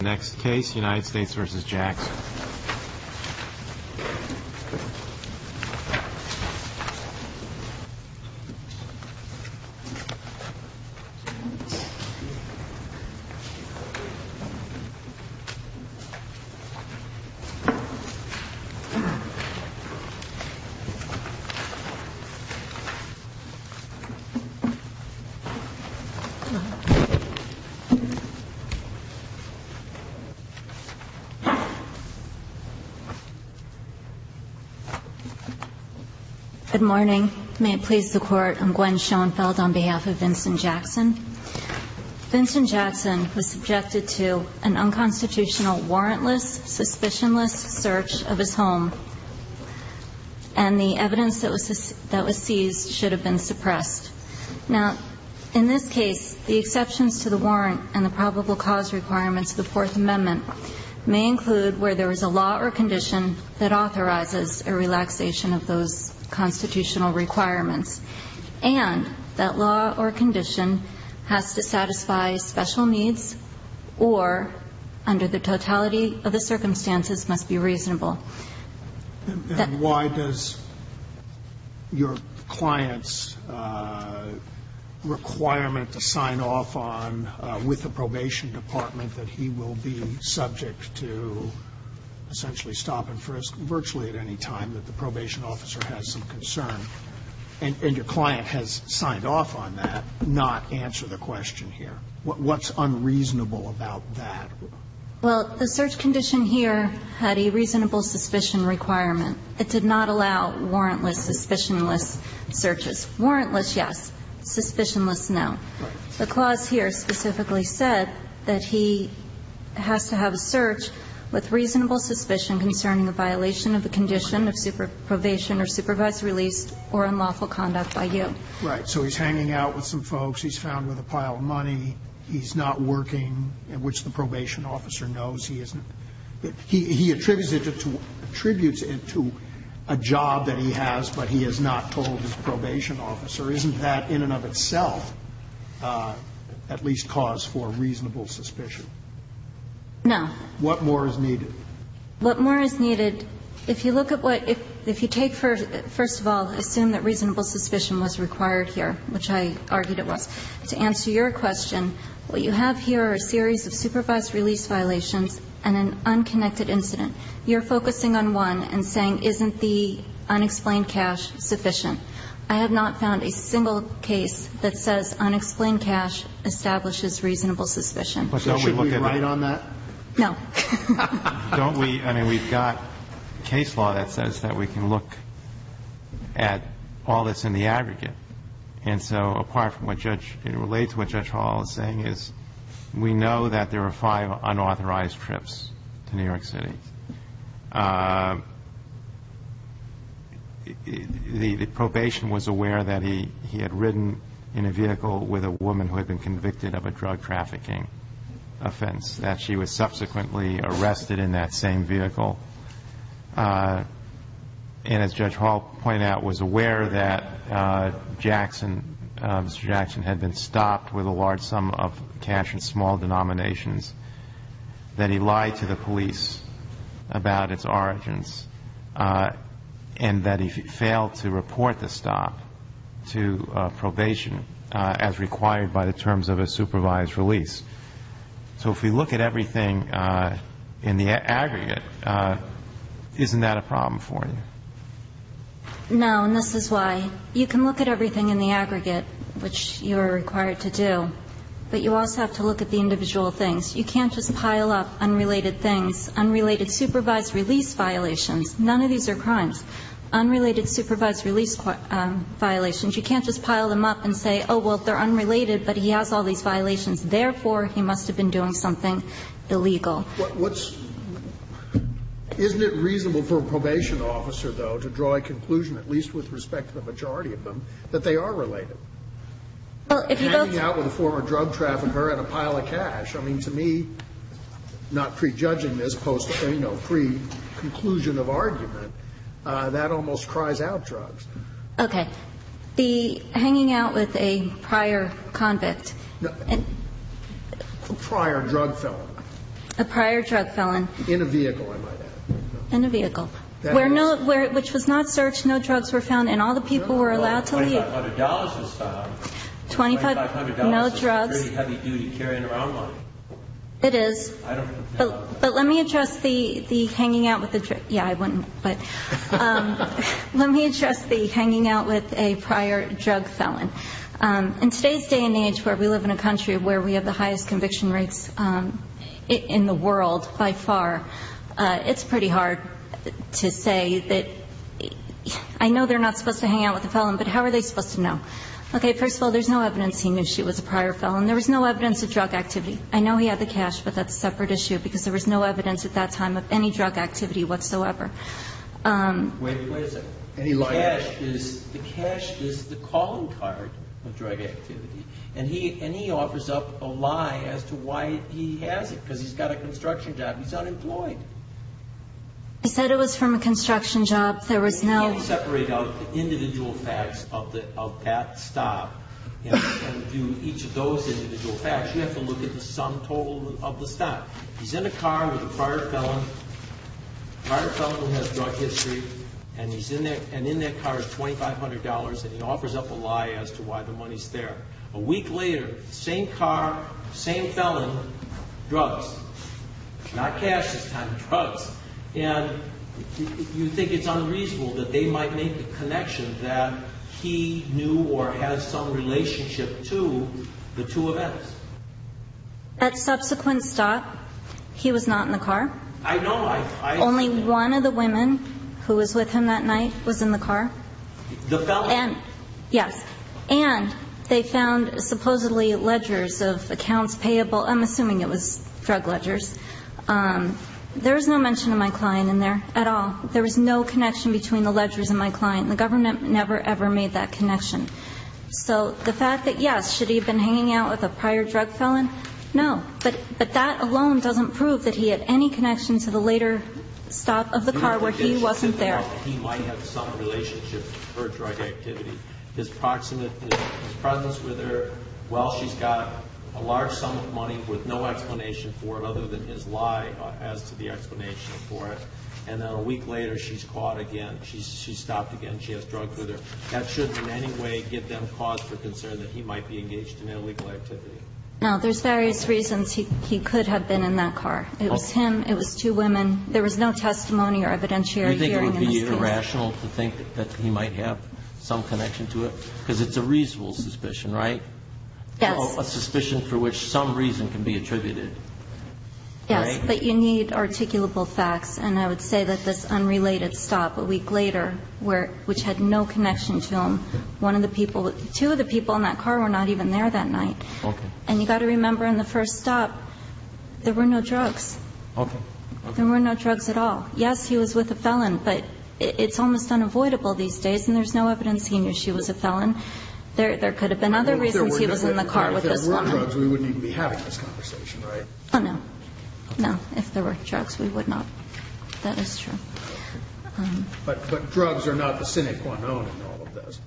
Next case, United States v. Jackson. Good morning. May it please the Court, I'm Gwen Schoenfeld on behalf of Vincent Jackson. Vincent Jackson was subjected to an unconstitutional, warrantless, suspicionless search of his home. And the evidence that was seized should have been suppressed. Now, in this case, the exceptions to the warrant and the probable cause requirements of the Fourth Amendment may include where there is a law or condition that authorizes a relaxation of those constitutional requirements, and that law or condition has to satisfy special needs or, under the totality of the circumstances, must be reasonable. And why does your client's requirement to sign off on, with the probation department, that he will be subject to essentially stop and frisk virtually at any time that the probation officer has some concern, and your client has signed off on that, not answer the question here? What's unreasonable about that? Well, the search condition here had a reasonable suspicion requirement. It did not allow warrantless, suspicionless searches. Warrantless, yes. Suspicionless, no. The clause here specifically said that he has to have a search with reasonable suspicion concerning a violation of the condition of probation or supervised release or unlawful conduct by you. Right. He's found with a pile of money. He's not working, which the probation officer knows he isn't. He attributes it to a job that he has, but he has not told his probation officer. Isn't that in and of itself at least cause for reasonable suspicion? No. What more is needed? What more is needed, if you look at what you take for, first of all, assume that reasonable suspicion was required here, which I argued it was. To answer your question, what you have here are a series of supervised release violations and an unconnected incident. You're focusing on one and saying, isn't the unexplained cash sufficient? I have not found a single case that says unexplained cash establishes reasonable suspicion. So should we write on that? No. Don't we? I mean, we've got case law that says that we can look at all that's in the aggregate. And so apart from what Judge Hall is saying is we know that there are five unauthorized trips to New York City. The probation was aware that he had ridden in a vehicle with a woman who had been convicted of a drug trafficking offense, that she was subsequently arrested in that same vehicle. And as Judge Hall pointed out, was aware that Jackson, Mr. Jackson, had been stopped with a large sum of cash in small denominations, that he lied to the police about its origins, and that he failed to report the stop to probation as required by the terms of a supervised release. So if we look at everything in the aggregate, isn't that a problem for you? No. And this is why. You can look at everything in the aggregate, which you are required to do, but you also have to look at the individual things. You can't just pile up unrelated things, unrelated supervised release violations. None of these are crimes. Unrelated supervised release violations, you can't just pile them up and say, oh, well, they're unrelated, but he has all these violations. Therefore, he must have been doing something illegal. What's – isn't it reasonable for a probation officer, though, to draw a conclusion, at least with respect to the majority of them, that they are related? Well, if you both – Hanging out with a former drug trafficker and a pile of cash. I mean, to me, not prejudging this post – you know, pre-conclusion of argument, that almost cries out drugs. Okay. The hanging out with a prior convict. A prior drug felon. A prior drug felon. In a vehicle, I might add. In a vehicle. Where no – which was not searched, no drugs were found, and all the people were allowed to leave. $2,500 was found. $2,500. No drugs. It's a pretty heavy duty carrying around line. It is. I don't know. But let me address the hanging out with the – yeah, I wouldn't, but let me address the hanging out with a prior drug felon. In today's day and age, where we live in a country where we have the highest conviction rates in the world by far, it's pretty hard to say that – I know they're not supposed to hang out with a felon, but how are they supposed to know? Okay. First of all, there's no evidence he knew she was a prior felon. There was no evidence of drug activity. I know he had the cash, but that's a separate issue, because there was no evidence at that time of any drug activity whatsoever. Wait a second. The cash is the calling card of drug activity, and he offers up a lie as to why he has it, because he's got a construction job. He's unemployed. He said it was from a construction job. There was no – You can't separate out the individual facts of that stop and do each of those individual facts. You have to look at the sum total of the stop. He's in a car with a prior felon, a prior felon who has drug history, and in that car is $2,500, and he offers up a lie as to why the money's there. A week later, same car, same felon, drugs. Not cash this time, drugs. And you think it's unreasonable that they might make the connection that he knew or had some relationship to the two events. At subsequent stop, he was not in the car. I know. Only one of the women who was with him that night was in the car. The felon? Yes. And they found supposedly ledgers of accounts payable. I'm assuming it was drug ledgers. There was no mention of my client in there at all. There was no connection between the ledgers and my client. The government never, ever made that connection. So the fact that, yes, should he have been hanging out with a prior drug felon? No. But that alone doesn't prove that he had any connection to the later stop of the car where he wasn't there. He might have some relationship to her drug activity. His presence with her, well, she's got a large sum of money with no explanation for it other than his lie as to the explanation for it. And then a week later, she's caught again. She stopped again. She has drugs with her. That should in any way give them cause for concern that he might be engaged in illegal activity. No. There's various reasons he could have been in that car. It was him. It was two women. There was no testimony or evidentiary hearing in this case. Do you think it would be irrational to think that he might have some connection to it? Because it's a reasonable suspicion, right? Yes. A suspicion for which some reason can be attributed. Yes. But you need articulable facts. And I would say that this unrelated stop a week later, which had no connection to him, one of the people, two of the people in that car were not even there that night. Okay. And you've got to remember in the first stop, there were no drugs. Okay. Okay. There were no drugs at all. Yes, he was with a felon, but it's almost unavoidable these days, and there's no evidence he knew she was a felon. There could have been other reasons he was in the car with this woman. If there were drugs, we wouldn't even be having this conversation, right? Oh, no. No. If there were drugs, we would not. That is true. But drugs are not the cynic one owning all of this.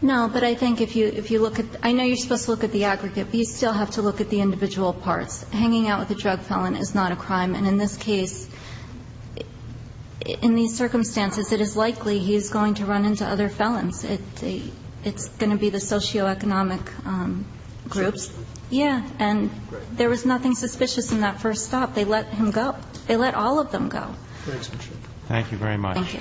No, but I think if you look at the – I know you're supposed to look at the aggregate, but you still have to look at the individual parts. Hanging out with a drug felon is not a crime. And in this case, in these circumstances, it is likely he's going to run into other felons. It's going to be the socioeconomic groups. Yeah. And there was nothing suspicious in that first stop. They let him go. They let all of them go. Thank you very much. Thank you.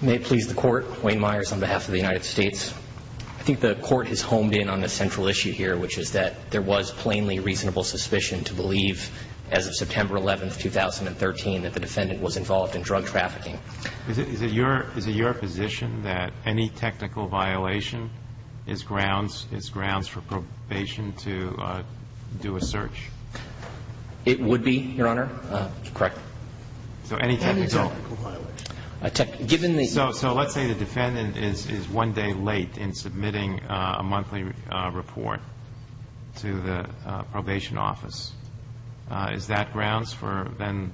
May it please the Court. Wayne Myers on behalf of the United States. I think the Court has homed in on a central issue here, which is that there was plainly reasonable suspicion to believe as of September 11th, 2013, that the defendant was involved in drug trafficking. Is it your position that any technical violation is grounds for probation to do a search? It would be, Your Honor. Correct. So any technical violation? Any technical violation. So let's say the defendant is one day late in submitting a monthly report to the probation office. Is that grounds for then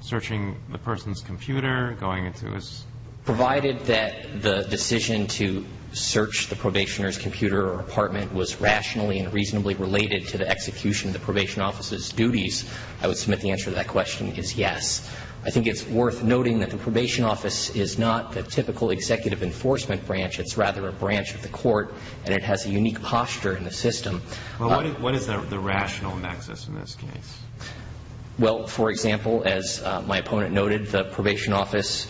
searching the person's computer, going into his room? Provided that the decision to search the probationer's computer or apartment was rationally and reasonably related to the execution of the probation office's duties, I would submit the answer to that question is yes. I think it's worth noting that the probation office is not the typical executive enforcement branch. It's rather a branch of the court, and it has a unique posture in the system. Well, what is the rational nexus in this case? Well, for example, as my opponent noted, the probation office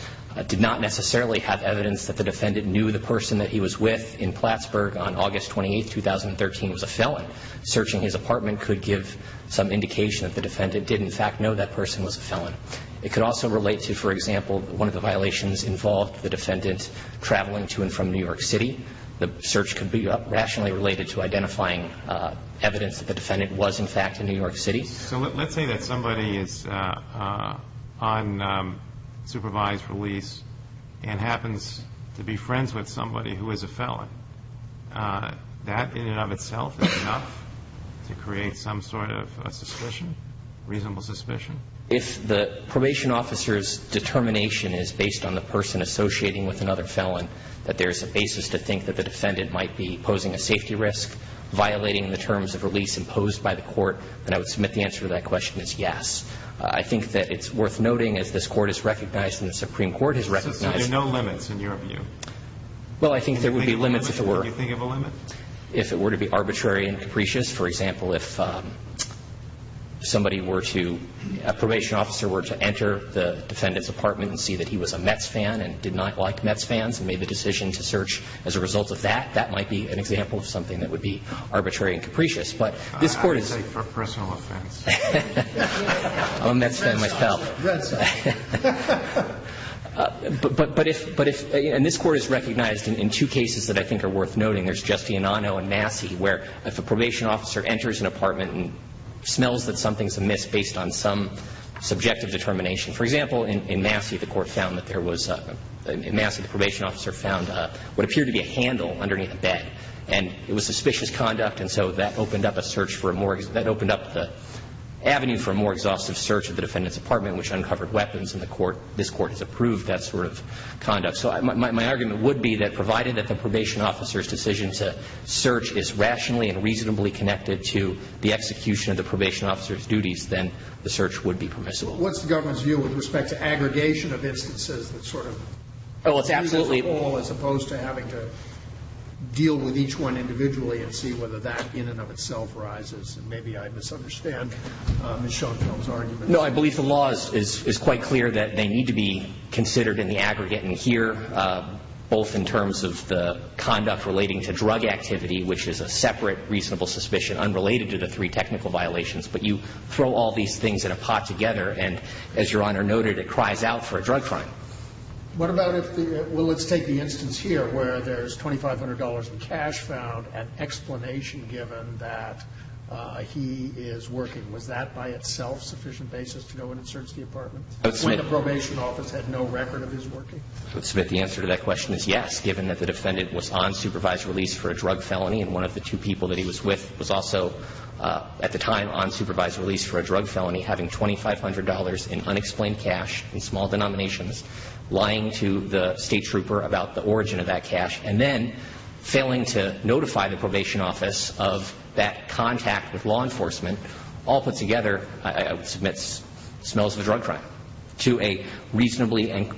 did not necessarily have evidence that the defendant knew the person that he was with in Plattsburgh on August 28th, 2013 was a felon. Searching his apartment could give some indication that the defendant did, in fact, know that person was a felon. It could also relate to, for example, one of the violations involved the defendant traveling to and from New York City. The search could be rationally related to identifying evidence that the defendant was, in fact, in New York City. So let's say that somebody is on supervised release and happens to be friends with somebody who is a felon. That in and of itself is enough to create some sort of suspicion, reasonable suspicion? If the probation officer's determination is based on the person associating with another felon, that there's a basis to think that the defendant might be posing a safety risk, violating the terms of release imposed by the court, then I would submit the answer to that question as yes. I think that it's worth noting, as this Court has recognized and the Supreme Court has recognized. So there are no limits, in your view? Well, I think there would be limits if it were. Can you think of a limit? If it were to be arbitrary and capricious. For example, if somebody were to, a probation officer were to enter the defendant's apartment and did not like Mets fans and made the decision to search as a result of that, that might be an example of something that would be arbitrary and capricious. But this Court is. I would say for personal offense. I'm a Mets fan myself. But if, and this Court has recognized in two cases that I think are worth noting. There's Giustianano and Massey where if a probation officer enters an apartment and smells that something's amiss based on some subjective determination. For example, in Massey the Court found that there was, in Massey the probation officer found what appeared to be a handle underneath a bed. And it was suspicious conduct, and so that opened up a search for a more, that opened up the avenue for a more exhaustive search of the defendant's apartment, which uncovered weapons. And the Court, this Court has approved that sort of conduct. So my argument would be that provided that the probation officer's decision to search is rationally and reasonably connected to the execution of the probation officer's duties, then the search would be permissible. So what's the government's view with respect to aggregation of instances that sort of. Oh, it's absolutely. As opposed to having to deal with each one individually and see whether that in and of itself rises. And maybe I misunderstand Ms. Schoenfeld's argument. No, I believe the law is quite clear that they need to be considered in the aggregate and here, both in terms of the conduct relating to drug activity, which is a separate reasonable suspicion unrelated to the three technical violations. But you throw all these things in a pot together, and as Your Honor noted, it cries out for a drug crime. What about if the, well, let's take the instance here where there's $2,500 in cash found, an explanation given that he is working. Was that by itself sufficient basis to know when it searched the apartment? When the probation office had no record of his working? The answer to that question is yes, given that the defendant was on supervised release for a drug felony, and one of the two people that he was with was also at the time on supervised release for a drug felony, having $2,500 in unexplained cash in small denominations, lying to the State Trooper about the origin of that cash, and then failing to notify the probation office of that contact with law enforcement all put together, I would submit smells of a drug crime, to a reasonably and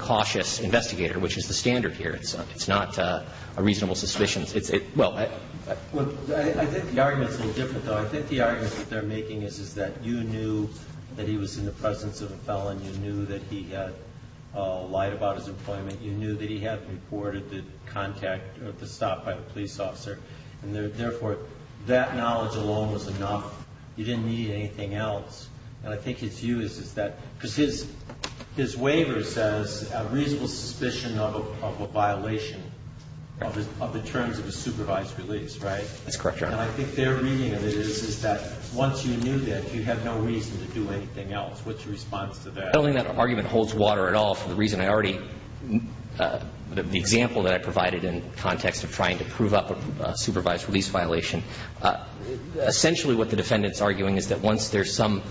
cautious investigator, which is the standard here. It's not a reasonable suspicion. Well, I think the argument is a little different, though. I think the argument that they're making is that you knew that he was in the presence of a felon. You knew that he had lied about his employment. You knew that he had reported the contact or the stop by the police officer, and therefore, that knowledge alone was enough. You didn't need anything else. And I think his view is that, because his waiver says a reasonable suspicion of a violation of the terms of a supervised release, right? That's correct, Your Honor. And I think their reading of it is, is that once you knew that, you have no reason to do anything else. What's your response to that? I don't think that argument holds water at all for the reason I already the example that I provided in context of trying to prove up a supervised release violation. Essentially, what the defendant's arguing is that once there's some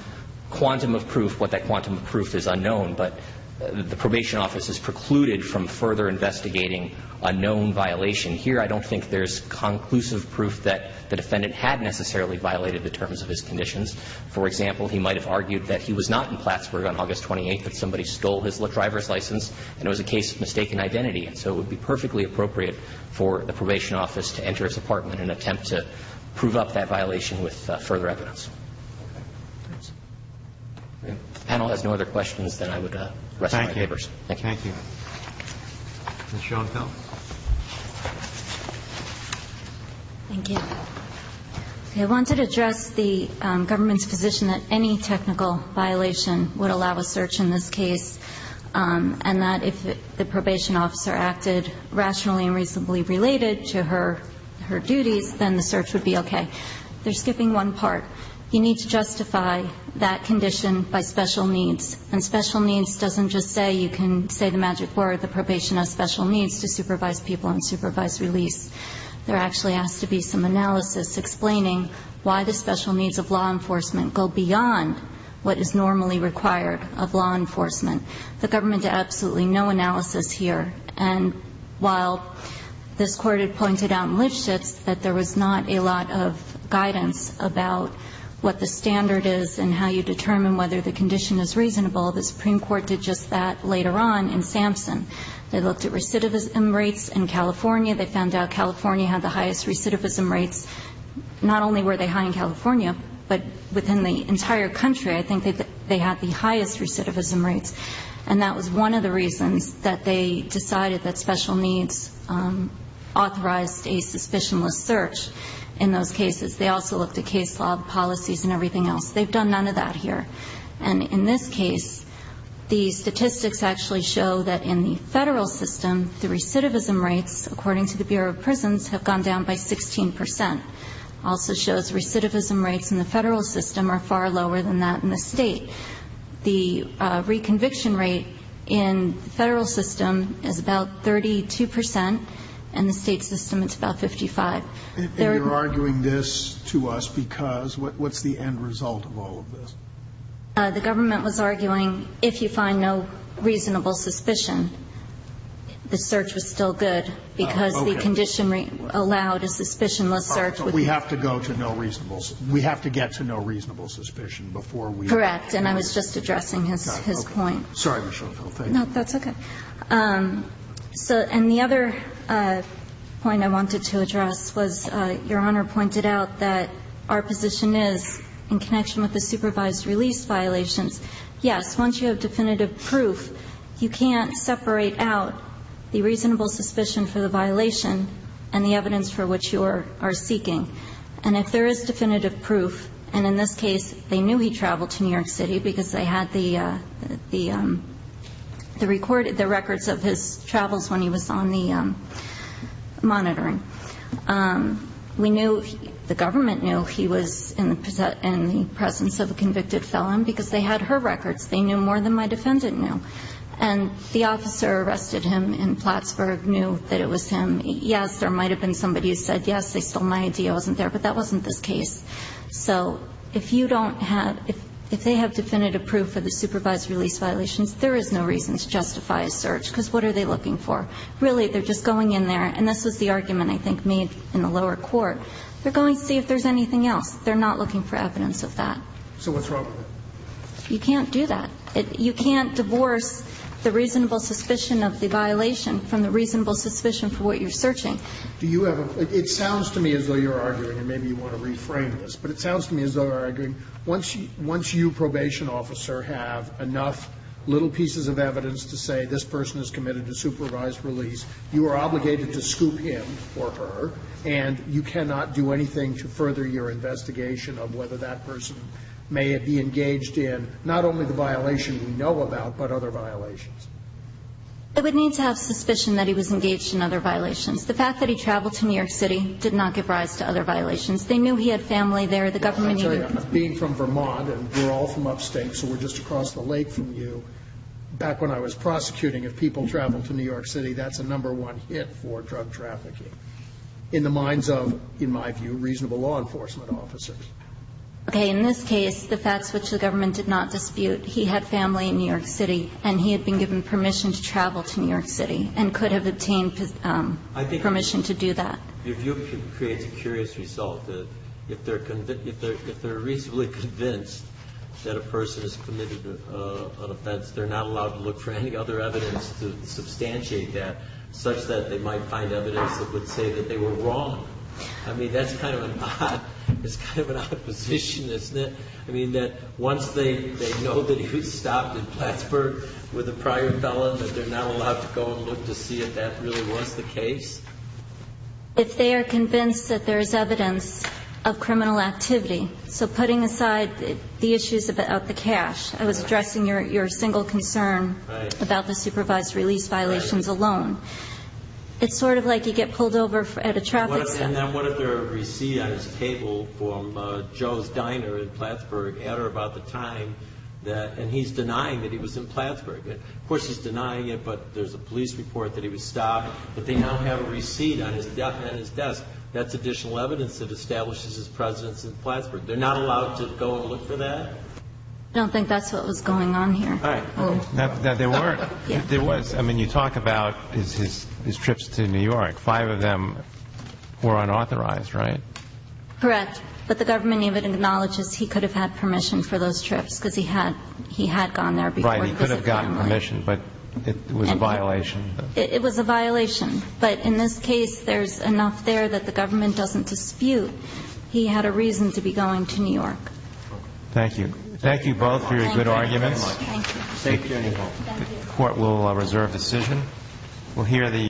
quantum of proof, what that quantum of proof is unknown, but the probation office has precluded from further investigating a known violation. Here, I don't think there's conclusive proof that the defendant had necessarily violated the terms of his conditions. For example, he might have argued that he was not in Plattsburgh on August 28th, that somebody stole his driver's license, and it was a case of mistaken identity. And so it would be perfectly appropriate for the probation office to enter his apartment and attempt to prove up that violation with further evidence. If the panel has no other questions, then I would rest my papers. Thank you. Thank you. Ms. Schonefeld. Thank you. I wanted to address the government's position that any technical violation would allow a search in this case, and that if the probation officer acted rationally and reasonably related to her duties, then the search would be okay. They're skipping one part. You need to justify that condition by special needs. And special needs doesn't just say you can say the magic word, the probation has special needs to supervise people and supervise release. There actually has to be some analysis explaining why the special needs of law enforcement go beyond what is normally required of law enforcement. The government did absolutely no analysis here. And while this Court had pointed out in Lipschitz that there was not a lot of guidance about what the standard is and how you determine whether the condition is reasonable, the Supreme Court did just that later on in Sampson. They looked at recidivism rates in California. They found out California had the highest recidivism rates. Not only were they high in California, but within the entire country, I think they had the highest recidivism rates. And that was one of the reasons that they decided that special needs authorized a suspicionless search in those cases. They also looked at case law, policies, and everything else. They've done none of that here. And in this case, the statistics actually show that in the federal system, the recidivism rates, according to the Bureau of Prisons, have gone down by 16 percent. It also shows recidivism rates in the federal system are far lower than that in the state. The reconviction rate in the federal system is about 32 percent. In the state system, it's about 55. And you're arguing this to us because what's the end result of all of this? The government was arguing if you find no reasonable suspicion, the search was still good. Okay. Because the condition allowed a suspicionless search. We have to go to no reasonable suspicion. We have to get to no reasonable suspicion before we. Correct. And I was just addressing his point. Sorry, Ms. Schoenfeld. No, that's okay. And the other point I wanted to address was Your Honor pointed out that our position is in connection with the supervised release violations. Yes, once you have definitive proof, you can't separate out the reasonable suspicion for the violation and the evidence for which you are seeking. And if there is definitive proof, and in this case, they knew he traveled to New York City because they had the records of his travels when he was on the monitoring. We knew, the government knew he was in the presence of a convicted felon because they had her records. They knew more than my defendant knew. And the officer arrested him in Plattsburgh knew that it was him. Yes, there might have been somebody who said, yes, they stole my ID. I wasn't there. But that wasn't this case. So if you don't have, if they have definitive proof for the supervised release violations, there is no reason to justify a search because what are they looking for? Really, they're just going in there, and this was the argument I think made in the lower court. They're going to see if there's anything else. They're not looking for evidence of that. So what's wrong with it? You can't divorce the reasonable suspicion of the violation from the reasonable suspicion for what you're searching. Do you have a, it sounds to me as though you're arguing, and maybe you want to reframe this, but it sounds to me as though you're arguing once you probation officer have enough little pieces of evidence to say this person is committed to supervised release, you are obligated to scoop him or her, and you cannot do anything to further your investigation of whether that person may be engaged in not only the violation we know about, but other violations. It would need to have suspicion that he was engaged in other violations. The fact that he traveled to New York City did not give rise to other violations. They knew he had family there. The government knew. I'll tell you, being from Vermont, and we're all from upstate, so we're just across the lake from you, back when I was prosecuting, if people traveled to New York City, that's a number one hit for drug trafficking in the minds of, in my view, reasonable law enforcement officers. Okay. In this case, the facts which the government did not dispute, he had family in New He could have obtained permission to travel to New York City and could have obtained permission to do that. Your view creates a curious result. If they're reasonably convinced that a person is committed an offense, they're not allowed to look for any other evidence to substantiate that, such that they might find evidence that would say that they were wrong. I mean, that's kind of an odd position, isn't it? I mean, that once they know that he was stopped in Plattsburgh with a prior felon, that they're not allowed to go and look to see if that really was the case? If they are convinced that there is evidence of criminal activity, so putting aside the issues of the cash, I was addressing your single concern about the supervised release violations alone. It's sort of like you get pulled over at a traffic stop. And then what if there are receipts on his table from Joe's Diner in Plattsburgh at or about the time that, and he's denying that he was in Plattsburgh. Of course, he's denying it, but there's a police report that he was stopped, but they now have a receipt on his desk. That's additional evidence that establishes his presence in Plattsburgh. They're not allowed to go and look for that? I don't think that's what was going on here. All right. Now, there were. There was. I mean, you talk about his trips to New York. Five of them were unauthorized, right? Correct. But the government even acknowledges he could have had permission for those trips because he had gone there before. Right. He could have gotten permission, but it was a violation. It was a violation. But in this case, there's enough there that the government doesn't dispute he had a reason to be going to New York. Thank you. Thank you both for your good arguments. Thank you very much. Thank you. The court will reserve decision.